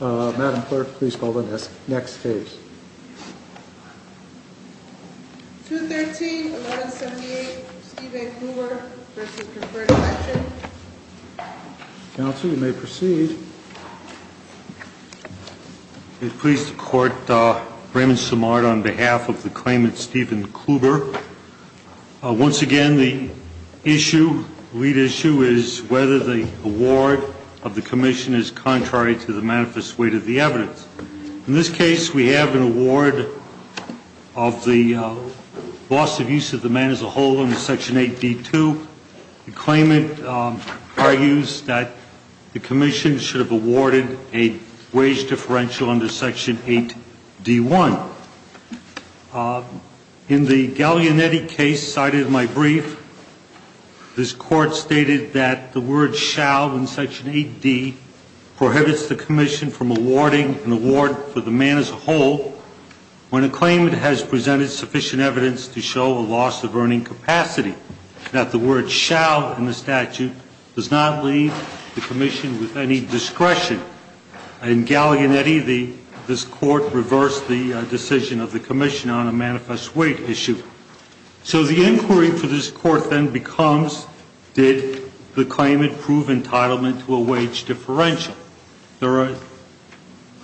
Madam Clerk, please call the next case. 213-1178, Stephen Kluber v. Preferred Election Counsel, you may proceed. It pleases the Court, Raymond Simard on behalf of the claimant Stephen Kluber. Once again, the lead issue is whether the award of the commission is contrary to the manifest weight of the evidence. In this case, we have an award of the loss of use of the man as a whole under Section 8D2. The claimant argues that the commission should have awarded a wage differential under Section 8D1. In the Gallianetti case cited in my brief, this Court stated that the word shall in Section 8D prohibits the commission from awarding an award for the man as a whole when a claimant has presented sufficient evidence to show a loss of earning capacity. That the word shall in the statute does not leave the commission with any discretion. In Gallianetti, this Court reversed the decision of the commission on a manifest weight issue. So the inquiry for this Court then becomes, did the claimant prove entitlement to a wage differential? There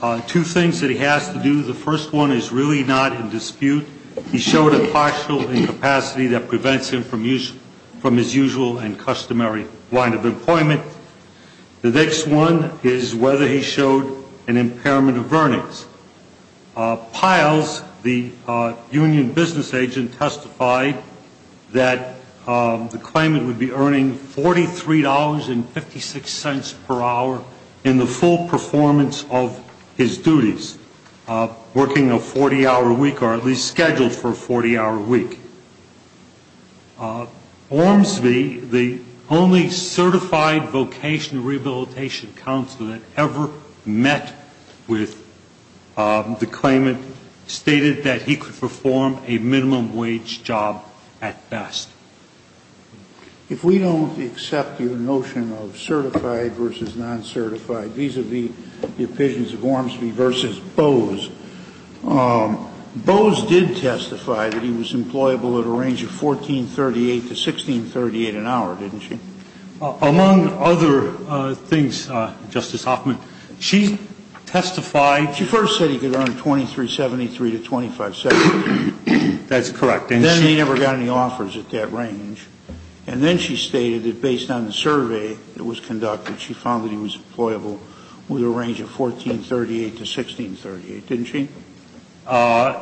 are two things that he has to do. The first one is really not in dispute. He showed a partial incapacity that prevents him from his usual and customary line of employment. The next one is whether he showed an impairment of earnings. Piles, the union business agent, testified that the claimant would be earning $43.56 per hour in the full performance of his duties, working a 40-hour week or at least scheduled for a 40-hour week. Ormsby, the only certified vocational rehabilitation counselor that ever met with the claimant, stated that he could perform a minimum wage job at best. If we don't accept your notion of certified versus non-certified, these are the opinions of Ormsby versus Bose. Bose did testify that he was employable at a range of $14.38 to $16.38 an hour, didn't she? Among other things, Justice Hoffman, she testified. She first said he could earn $23.73 to $25.70. That's correct. And then he never got any offers at that range. And then she stated that based on the survey that was conducted, she found that he was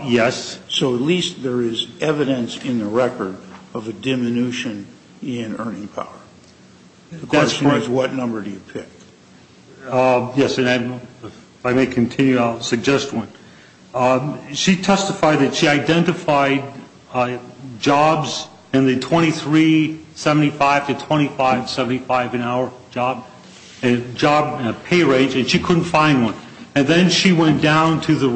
Yes. So at least there is evidence in the record of a diminution in earning power. The question is, what number do you pick? Yes, and if I may continue, I'll suggest one. She testified that she identified jobs in the $23.75 to $25.75 an hour job, a job and a pay rate, and she couldn't find one. And then she went down to the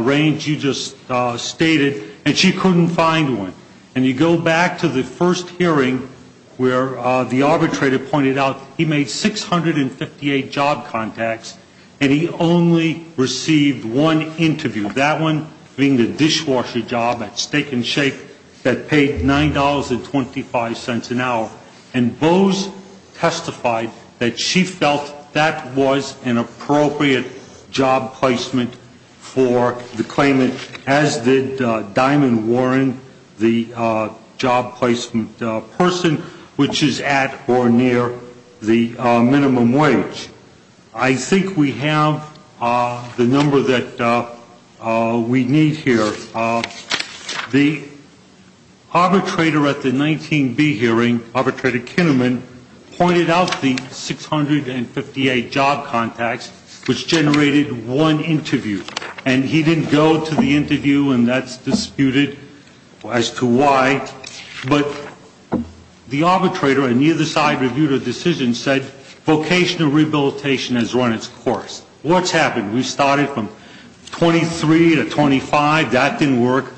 range you just stated and she couldn't find one. And you go back to the first hearing where the arbitrator pointed out he made 658 job contacts and he only received one interview, that one being the dishwasher job at Steak and Shake that paid $9.25 an hour. And Bose testified that she felt that was an appropriate job placement for the claimant, as did Diamond Warren, the job placement person, which is at or near the minimum wage. I think we have the number that we need here. The arbitrator at the 19B hearing, Arbitrator Kinnaman, pointed out the 658 job contacts, which generated one interview. And he didn't go to the interview, and that's disputed as to why. But the arbitrator on either side reviewed her decision and said vocational rehabilitation has run its course. What's happened? We started from 23 to 25. That didn't work.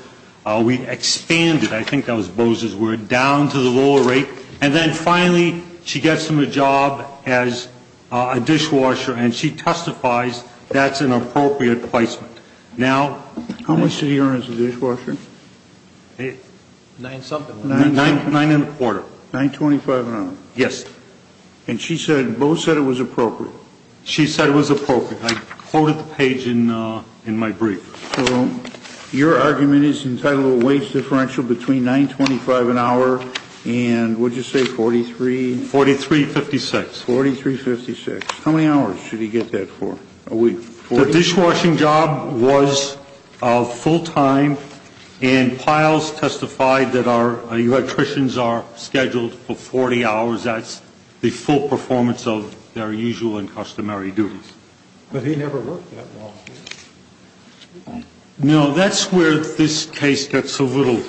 We expanded, I think that was Bose's word, down to the lower rate. And then finally she gets him a job as a dishwasher, and she testifies that's an appropriate placement. Now, how much did he earn as a dishwasher? Nine something. Nine and a quarter. $9.25 an hour. Yes. And she said, Bose said it was appropriate. She said it was appropriate. I quoted the page in my brief. So your argument is entitled a wage differential between $9.25 an hour and, what did you say, 43? 43.56. 43.56. How many hours should he get that for? A week. The dishwashing job was full time, and Piles testified that our electricians are scheduled for 40 hours. That's the full performance of their usual and customary duties. But he never worked that long. No, that's where this case gets a little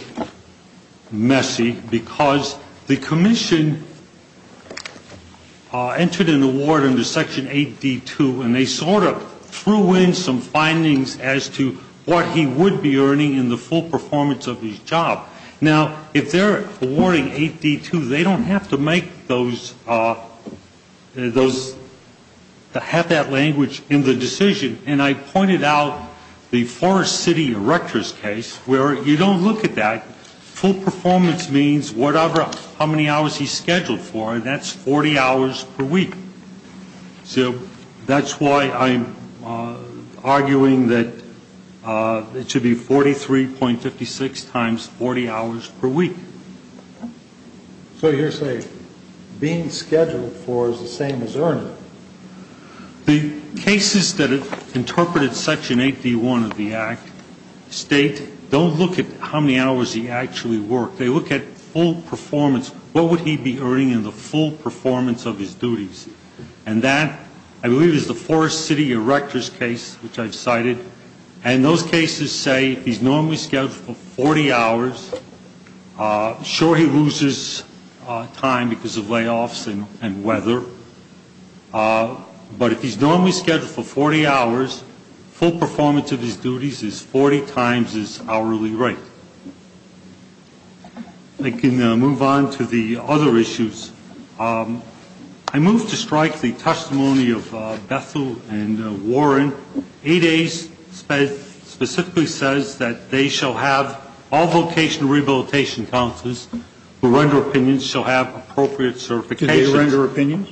messy, because the commission entered an award under Section 8D2, and they sort of threw in some findings as to what he would be earning in the full performance of his job. Now, if they're awarding 8D2, they don't have to make those, have that language in the decision. And I pointed out the Forest City Erector's case where you don't look at that. Full performance means whatever, how many hours he's scheduled for, and that's 40 hours per week. So that's why I'm arguing that it should be 43.56 times 40 hours per week. So you're saying being scheduled for is the same as earning. The cases that have interpreted Section 8D1 of the Act state don't look at how many hours he actually worked. They look at full performance. What would he be earning in the full performance of his duties? And that, I believe, is the Forest City Erector's case, which I've cited. And those cases say he's normally scheduled for 40 hours. Sure, he loses time because of layoffs and weather. But if he's normally scheduled for 40 hours, full performance of his duties is 40 times his hourly rate. I can move on to the other issues. I move to strike the testimony of Bethel and Warren. 8A specifically says that they shall have all vocational rehabilitation counselors who render opinions shall have appropriate certifications. Do they render opinions?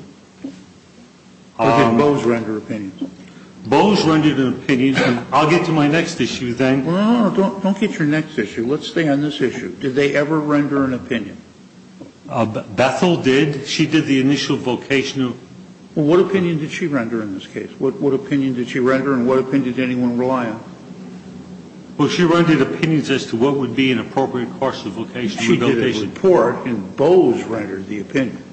Or did Bose render opinions? Bose rendered an opinion. I'll get to my next issue then. No, no, no. Don't get your next issue. Let's stay on this issue. Did they ever render an opinion? Bethel did. She did the initial vocational. Well, what opinion did she render in this case? What opinion did she render and what opinion did anyone rely on? Well, she rendered opinions as to what would be an appropriate course of vocation. She did a report and Bose rendered the opinion.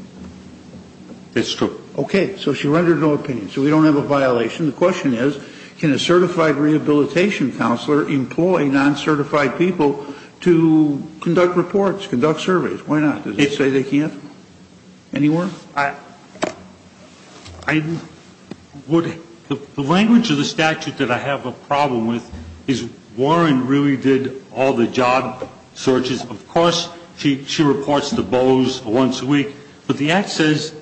That's true. Okay. So she rendered no opinion. So we don't have a violation. The question is, can a certified rehabilitation counselor employ non-certified people to conduct reports, conduct surveys? Why not? Did they say they can't? Any more? I would the language of the statute that I have a problem with is Warren really did all the job searches. Of course, she reports to Bose once a week. But the act says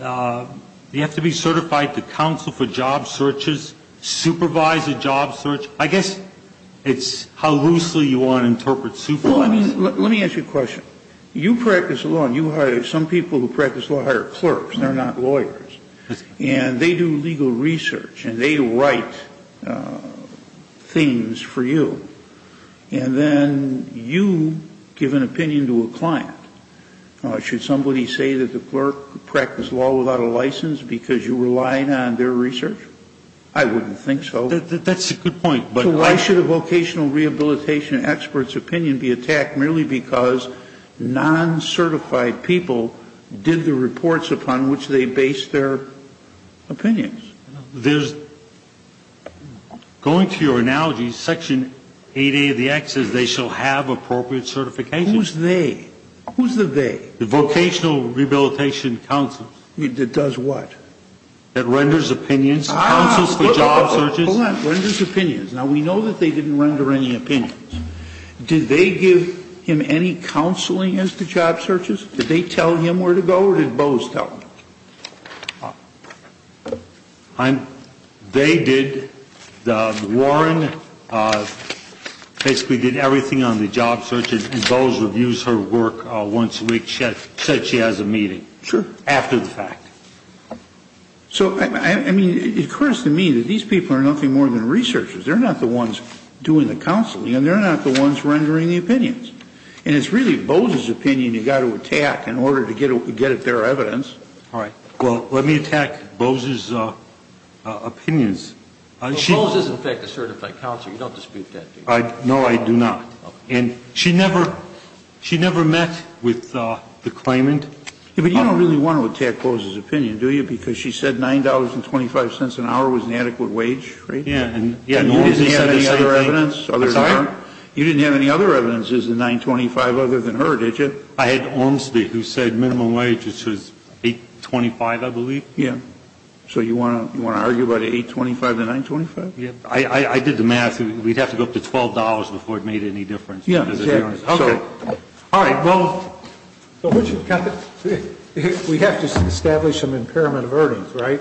you have to be certified to counsel for job searches, supervise a job search. I guess it's how loosely you want to interpret supervise. Well, I mean, let me ask you a question. You practice law and you hire some people who practice law hire clerks. They're not lawyers. And they do legal research and they write things for you. And then you give an opinion to a client. Should somebody say that the clerk practiced law without a license because you relied on their research? I wouldn't think so. That's a good point. But why should a vocational rehabilitation expert's opinion be attacked merely because non-certified people did the reports upon which they based their opinions? There's going to your analogy, section 8A of the act says they shall have appropriate certification. Who's they? Who's the they? The vocational rehabilitation counsel. It does what? It renders opinions, counsels for job searches. Hold on. Renders opinions. Now, we know that they didn't render any opinions. Did they give him any counseling as to job searches? Did they tell him where to go or did Bose tell him? They did. Warren basically did everything on the job search and Bose reviews her work once a week, said she has a meeting. Sure. After the fact. So, I mean, it occurs to me that these people are nothing more than researchers. They're not the ones doing the counseling and they're not the ones rendering the opinions. And it's really Bose's opinion you've got to attack in order to get at their evidence. All right. Well, let me attack Bose's opinions. But Bose is, in fact, a certified counselor. You don't dispute that, do you? No, I do not. And she never met with the claimant. But you don't really want to attack Bose's opinion, do you? Because she said $9.25 an hour was an adequate wage, right? Yeah. And you didn't have any other evidence? I'm sorry? You didn't have any other evidence as to $9.25 other than her, did you? I had Olmstead who said minimum wage was $8.25, I believe. Yeah. So you want to argue about $8.25 to $9.25? Yeah. I did the math. We'd have to go up to $12 before it made any difference. Yeah, exactly. Okay. All right. Well, we have to establish some impairment of earnings, right?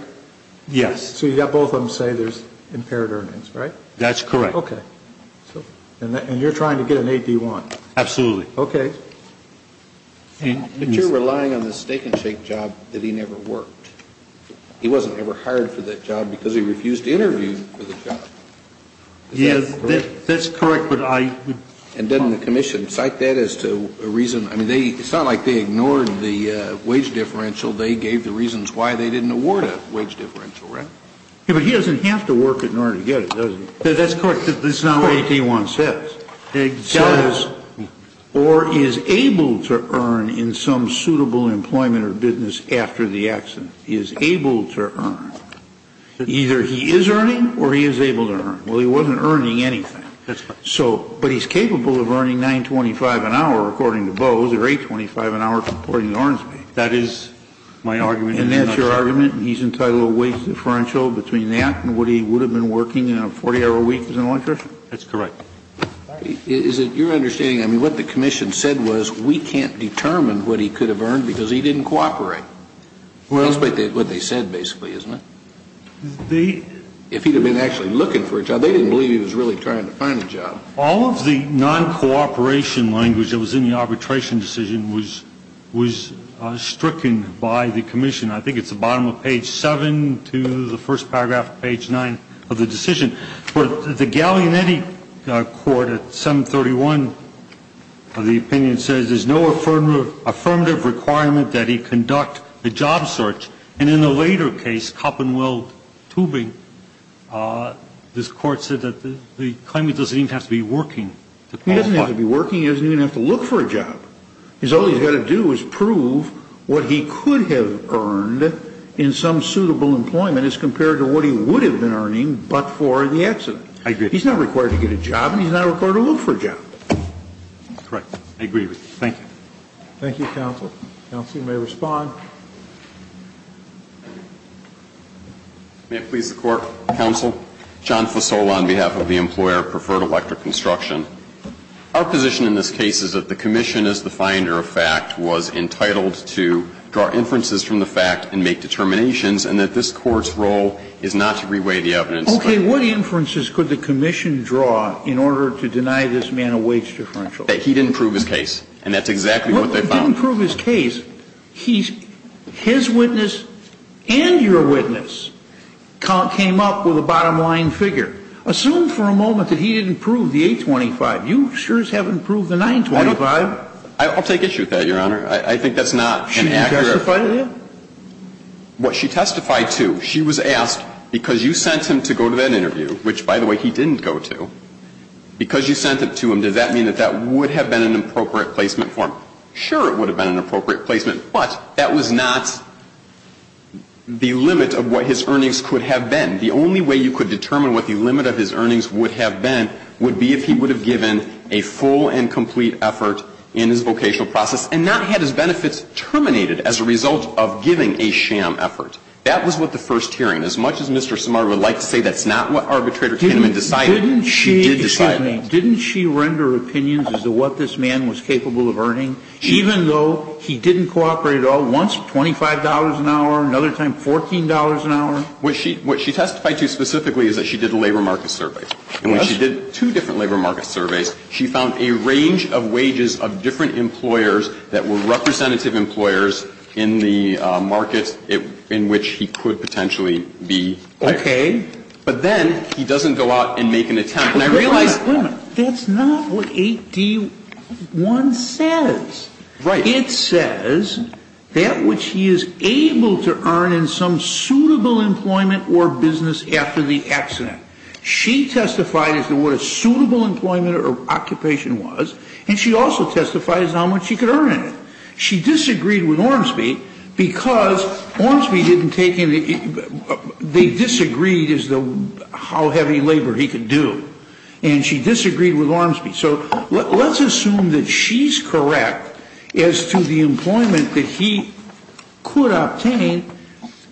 Yes. So you've got both of them say there's impaired earnings, right? That's correct. Okay. And you're trying to get an 8D1? Absolutely. Okay. But you're relying on the Steak and Shake job that he never worked. He wasn't ever hired for that job because he refused to interview for the job. Yeah, that's correct. And didn't the commission cite that as to a reason? I mean, it's not like they ignored the wage differential. They gave the reasons why they didn't award a wage differential, right? Yeah, but he doesn't have to work in order to get it, does he? That's correct. That's not what 8D1 says. It says or is able to earn in some suitable employment or business after the accident. He is able to earn. Either he is earning or he is able to earn. Well, he wasn't earning anything. That's right. But he's capable of earning $9.25 an hour, according to Bose, or $8.25 an hour, according to Ornsby. That is my argument. And that's your argument? He's entitled to a wage differential between that and what he would have been working in a 40-hour week as an electrician? That's correct. Is it your understanding, I mean, what the commission said was we can't determine what he could have earned because he didn't cooperate? Well. That's what they said, basically, isn't it? If he had been actually looking for a job, they didn't believe he was really trying to find a job. All of the non-cooperation language that was in the arbitration decision was stricken by the commission. I think it's the bottom of page 7 to the first paragraph of page 9 of the decision. The Gallianetti court at 731 of the opinion says there's no affirmative requirement that he conduct the job search. And in a later case, Coppenweld-Tubing, this court said that the claimant doesn't even have to be working. He doesn't have to be working. He doesn't even have to look for a job. All he's got to do is prove what he could have earned in some suitable employment as compared to what he would have been earning but for the accident. I agree. He's not required to get a job, and he's not required to look for a job. That's correct. I agree with you. Thank you. Thank you, counsel. Counsel, you may respond. May it please the court? Counsel, John Fasola on behalf of the employer of Preferred Electric Construction. Our position in this case is that the commission, as the finder of fact, was entitled to draw inferences from the fact and make determinations, and that this Court's role is not to reweigh the evidence. Okay. What inferences could the commission draw in order to deny this man a wage differential? That he didn't prove his case. And that's exactly what they found. He didn't prove his case. His witness and your witness came up with a bottom-line figure. Assume for a moment that he didn't prove the 825. You sure as heaven proved the 925. I'll take issue with that, Your Honor. I think that's not an accurate. Should you testify to that? What she testified to, she was asked, because you sent him to go to that interview, which, by the way, he didn't go to, because you sent it to him, does that mean that that would have been an appropriate placement for him? Sure, it would have been an appropriate placement, but that was not the limit of what his earnings could have been. The only way you could determine what the limit of his earnings would have been would be if he would have given a full and complete effort in his vocational process and not had his benefits terminated as a result of giving a sham effort. That was what the first hearing. As much as Mr. Simard would like to say that's not what Arbitrator Kinnaman decided, he did decide it. Didn't she render opinions as to what this man was capable of earning, even though he didn't cooperate at all, once $25 an hour, another time $14 an hour? What she testified to specifically is that she did a labor market survey. And when she did two different labor market surveys, she found a range of wages of different employers that were representative employers in the market in which he could potentially be. Okay. But then he doesn't go out and make an attempt. And I realize that's not what 8D1 says. Right. But it says that which he is able to earn in some suitable employment or business after the accident. She testified as to what a suitable employment or occupation was. And she also testified as to how much she could earn in it. She disagreed with Ormsby because Ormsby didn't take any of the they disagreed as to how heavy labor he could do. And she disagreed with Ormsby. So let's assume that she's correct as to the employment that he could obtain.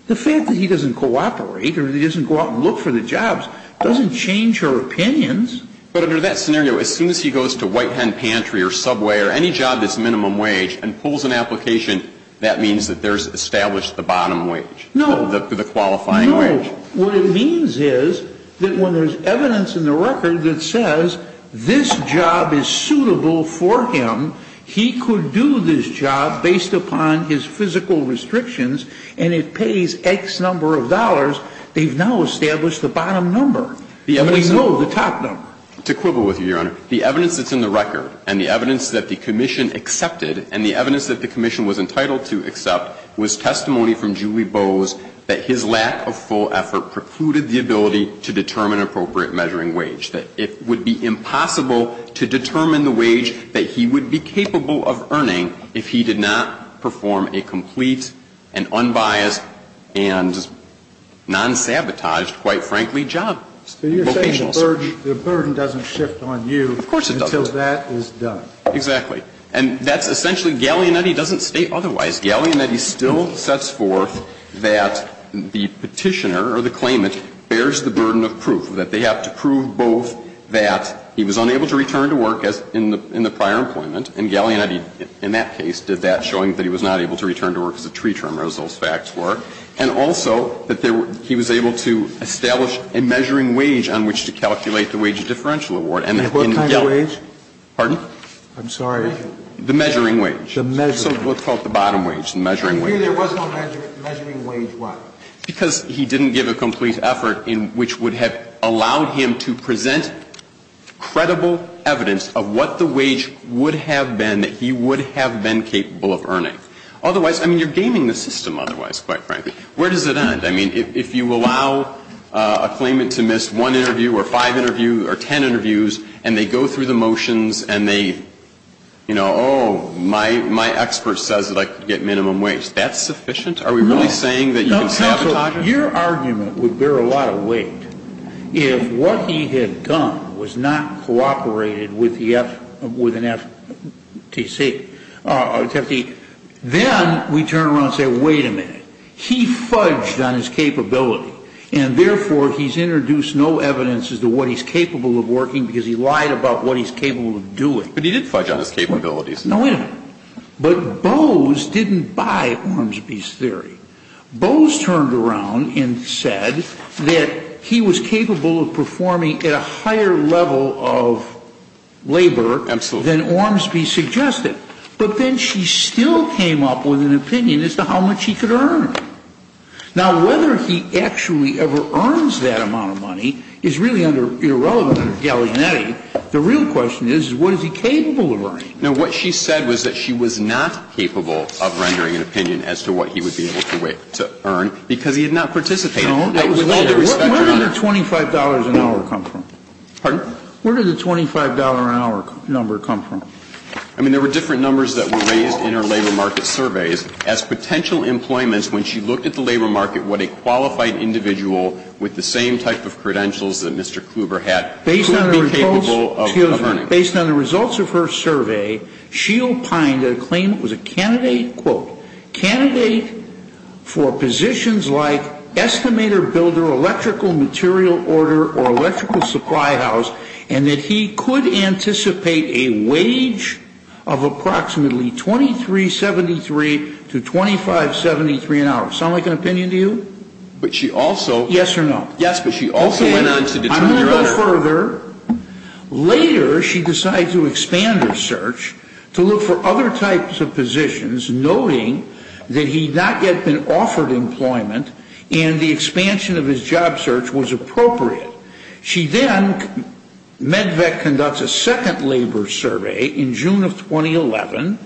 The fact that he doesn't cooperate or he doesn't go out and look for the jobs doesn't change her opinions. But under that scenario, as soon as he goes to White Hen Pantry or Subway or any job that's minimum wage and pulls an application, that means that there's established the bottom wage. No. The qualifying wage. What it means is that when there's evidence in the record that says this job is suitable for him, he could do this job based upon his physical restrictions and it pays X number of dollars, they've now established the bottom number. We know the top number. To quibble with you, Your Honor, the evidence that's in the record and the evidence that the commission accepted and the evidence that the commission was entitled to accept was testimony from Julie Bowes that his lack of full effort precluded the ability to determine appropriate measuring wage, that it would be impossible to determine the wage that he would be capable of earning if he did not perform a complete and unbiased and non-sabotaged, quite frankly, job. So you're saying the burden doesn't shift on you until that is done. Of course it doesn't. Exactly. And that's essentially, Gaglianetti doesn't state otherwise. Gaglianetti still sets forth that the Petitioner or the claimant bears the burden of proof, that they have to prove both that he was unable to return to work as in the prior employment, and Gaglianetti in that case did that, showing that he was not able to return to work as a tree trimmer, as those facts were, and also that he was able to establish a measuring wage on which to calculate the wage differential award. And then Gaglianetti. What kind of wage? Pardon? I'm sorry. The measuring wage. The measuring wage. So what's called the bottom wage, the measuring wage. And here there was no measuring wage. Measuring wage what? Because he didn't give a complete effort in which would have allowed him to present credible evidence of what the wage would have been that he would have been capable of earning. Otherwise, I mean, you're gaming the system otherwise, quite frankly. Where does it end? I mean, if you allow a claimant to miss one interview or five interviews or ten interviews and they go through the motions and they, you know, oh, my expert says that I could get minimum wage, that's sufficient? Are we really saying that you can sabotage it? No, counsel, your argument would bear a lot of weight if what he had done was not cooperated with the FTC. Then we turn around and say, wait a minute. He fudged on his capability, and therefore he's introduced no evidence as to what he's capable of working because he lied about what he's capable of doing. But he did fudge on his capabilities. No, wait a minute. But Bowes didn't buy Ormsby's theory. Bowes turned around and said that he was capable of performing at a higher level of labor than Ormsby suggested. But then she still came up with an opinion as to how much he could earn. Now, whether he actually ever earns that amount of money is really under irrelevant under Gallagher's netting. The real question is, what is he capable of earning? Now, what she said was that she was not capable of rendering an opinion as to what he would be able to earn because he had not participated. No, that was later. Where did the $25 an hour come from? Pardon? Where did the $25 an hour number come from? I mean, there were different numbers that were raised in our labor market surveys as potential employments when she looked at the labor market, what a qualified individual with the same type of credentials that Mr. Kluber had could be capable of earning. Based on the results of her survey, she opined that a claimant was a candidate, quote, candidate for positions like estimator, builder, electrical material order, or electrical supply house, and that he could anticipate a wage of approximately $23.73 to $25.73 an hour. Sound like an opinion to you? But she also. Yes or no? Yes, but she also went on to determine. I'm going to go further. Later, she decided to expand her search to look for other types of positions, noting that he had not yet been offered employment and the expansion of his job search was appropriate. She then, MedVet conducts a second labor survey in June of 2011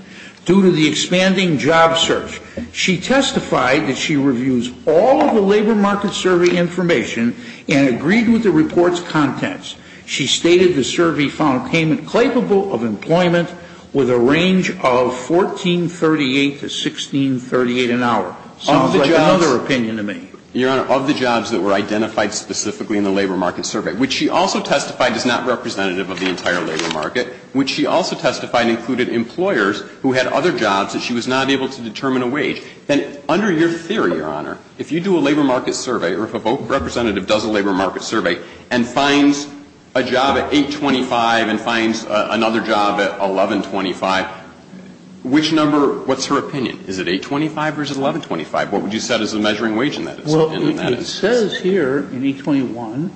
due to the expanding job search. She testified that she reviews all of the labor market survey information and agreed with the report's contents. She stated the survey found a claimant capable of employment with a range of $14.38 to $16.38 an hour. Sounds like another opinion to me. Your Honor, of the jobs that were identified specifically in the labor market survey, which she also testified is not representative of the entire labor market, which she also testified included employers who had other jobs that she was not able to determine a wage, then under your theory, Your Honor, if you do a labor market survey or if a representative does a labor market survey and finds a job at $8.25 and finds another job at $11.25, which number, what's her opinion? Is it $8.25 or is it $11.25? What would you set as a measuring wage in that instance? Well, it says here in E21,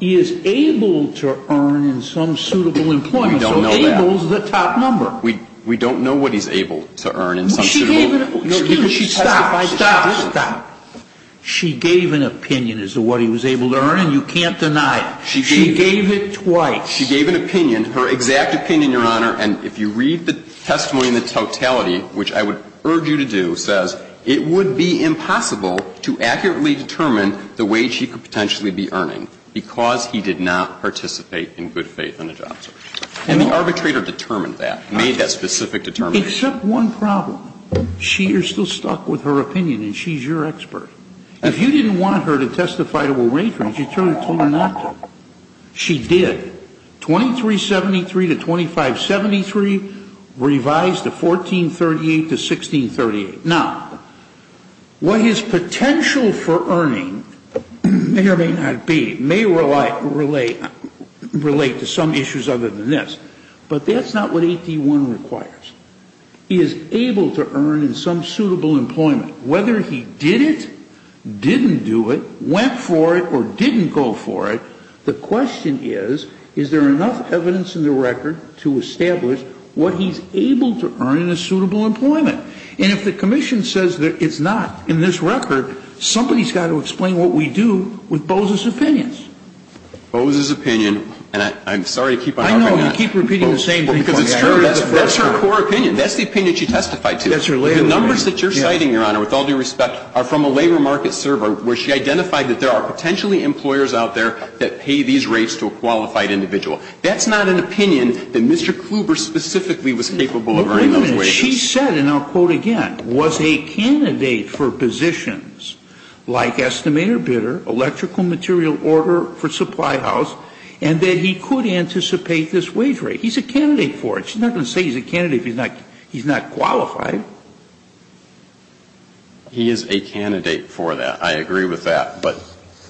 he is able to earn in some suitable employment. We don't know that. So able is the top number. We don't know what he's able to earn in some suitable employment. No, she gave an opinion. Excuse me. Stop, stop, stop. She gave an opinion as to what he was able to earn and you can't deny it. She gave it twice. She gave an opinion, her exact opinion, Your Honor, and if you read the testimony in the totality, which I would urge you to do, says it would be impossible to accurately determine the wage he could potentially be earning because he did not participate in good faith in a job search. And the arbitrator determined that, made that specific determination. Except one problem. She is still stuck with her opinion and she's your expert. If you didn't want her to testify to a rate breach, you turned it to her not to. She did. 2373 to 2573, revised to 1438 to 1638. Now, what his potential for earning may or may not be, may relate to some issues other than this, but that's not what 8D1 requires. He is able to earn in some suitable employment. Whether he did it, didn't do it, went for it, or didn't go for it, the question is, is there enough evidence in the record to establish what he's able to earn in a suitable employment? And if the commission says that it's not in this record, somebody's got to explain what we do with Boza's opinions. Boza's opinion, and I'm sorry to keep on arguing that. I know. You keep repeating the same thing. Because it's true. That's her core opinion. That's the opinion she testified to. That's her labor opinion. The numbers that you're citing, Your Honor, with all due respect, are from a labor market server where she identified that there are potentially employers out there that pay these rates to a qualified individual. That's not an opinion that Mr. Kluber specifically was capable of earning those wages. But wait a minute. She said, and I'll quote again, was a candidate for positions like estimator bidder, electrical material order for supply house, and that he could anticipate this wage rate. He's a candidate for it. She's not going to say he's a candidate if he's not qualified. He is a candidate for that. I agree with that. But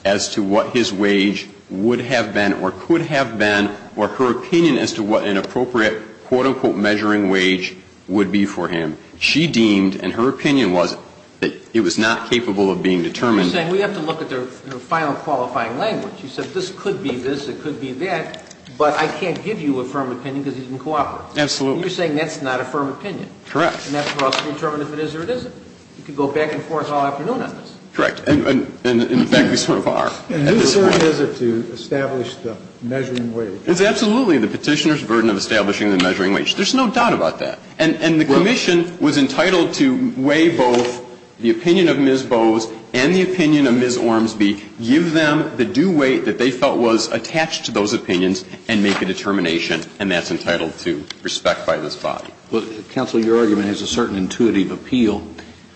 as to what his wage would have been or could have been, or her opinion as to what an appropriate quote, unquote, measuring wage would be for him, she deemed, and her opinion was that he was not capable of being determined. You're saying we have to look at the final qualifying language. You said this could be this, it could be that, but I can't give you a firm opinion because he didn't cooperate. Absolutely. You're saying that's not a firm opinion. Correct. And that's for us to determine if it is or it isn't. You can go back and forth all afternoon on this. Correct. And in fact, we sort of are. And whose burden is it to establish the measuring wage? It's absolutely the Petitioner's burden of establishing the measuring wage. There's no doubt about that. And the Commission was entitled to weigh both the opinion of Ms. Bowes and the opinion of Ms. Ormsby, give them the due weight that they felt was attached to those opinions and make a determination, and that's entitled to respect by this body. Well, counsel, your argument has a certain intuitive appeal,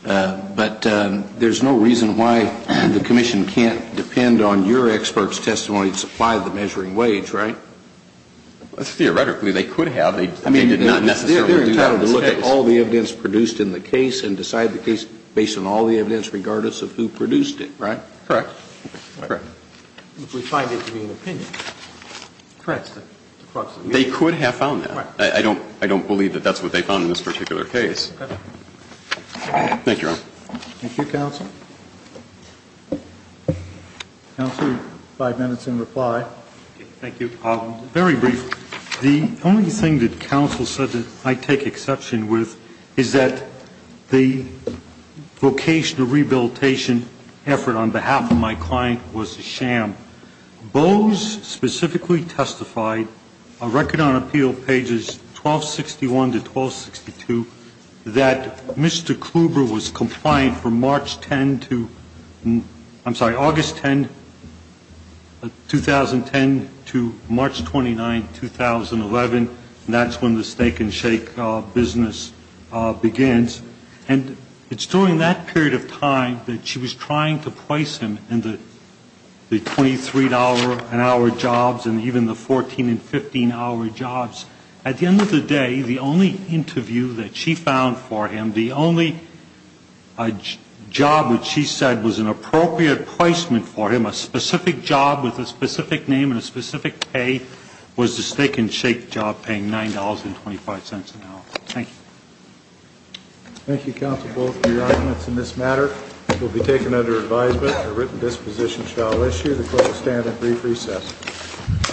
but there's no reason why the Commission can't depend on your expert's testimony to supply the measuring wage, right? Theoretically, they could have. They did not necessarily do that in this case. They're entitled to look at all the evidence produced in the case and decide the case based on all the evidence regardless of who produced it, right? Correct. Correct. If we find it to be an opinion. Correct. They could have found that. I don't believe that that's what they found in this particular case. Thank you, Your Honor. Thank you, counsel. Counsel, five minutes in reply. Thank you. Very briefly, the only thing that counsel said that I take exception with is that Boes specifically testified, record on appeal pages 1261 to 1262, that Mr. Kluber was compliant from March 10th to, I'm sorry, August 10th, 2010 to March 29th, 2011, and that's when the stake-and-shake business begins, and it's during that period of time that she was trying to price him in the $23-an-hour jobs and even the 14- and 15-hour jobs. At the end of the day, the only interview that she found for him, the only job which she said was an appropriate placement for him, a specific job with a specific name and a specific pay, was the stake-and-shake job paying $9.25 an hour. Thank you. Thank you, counsel, both for your arguments in this matter. It will be taken under advisement that a written disposition shall issue. The court will stand at brief recess.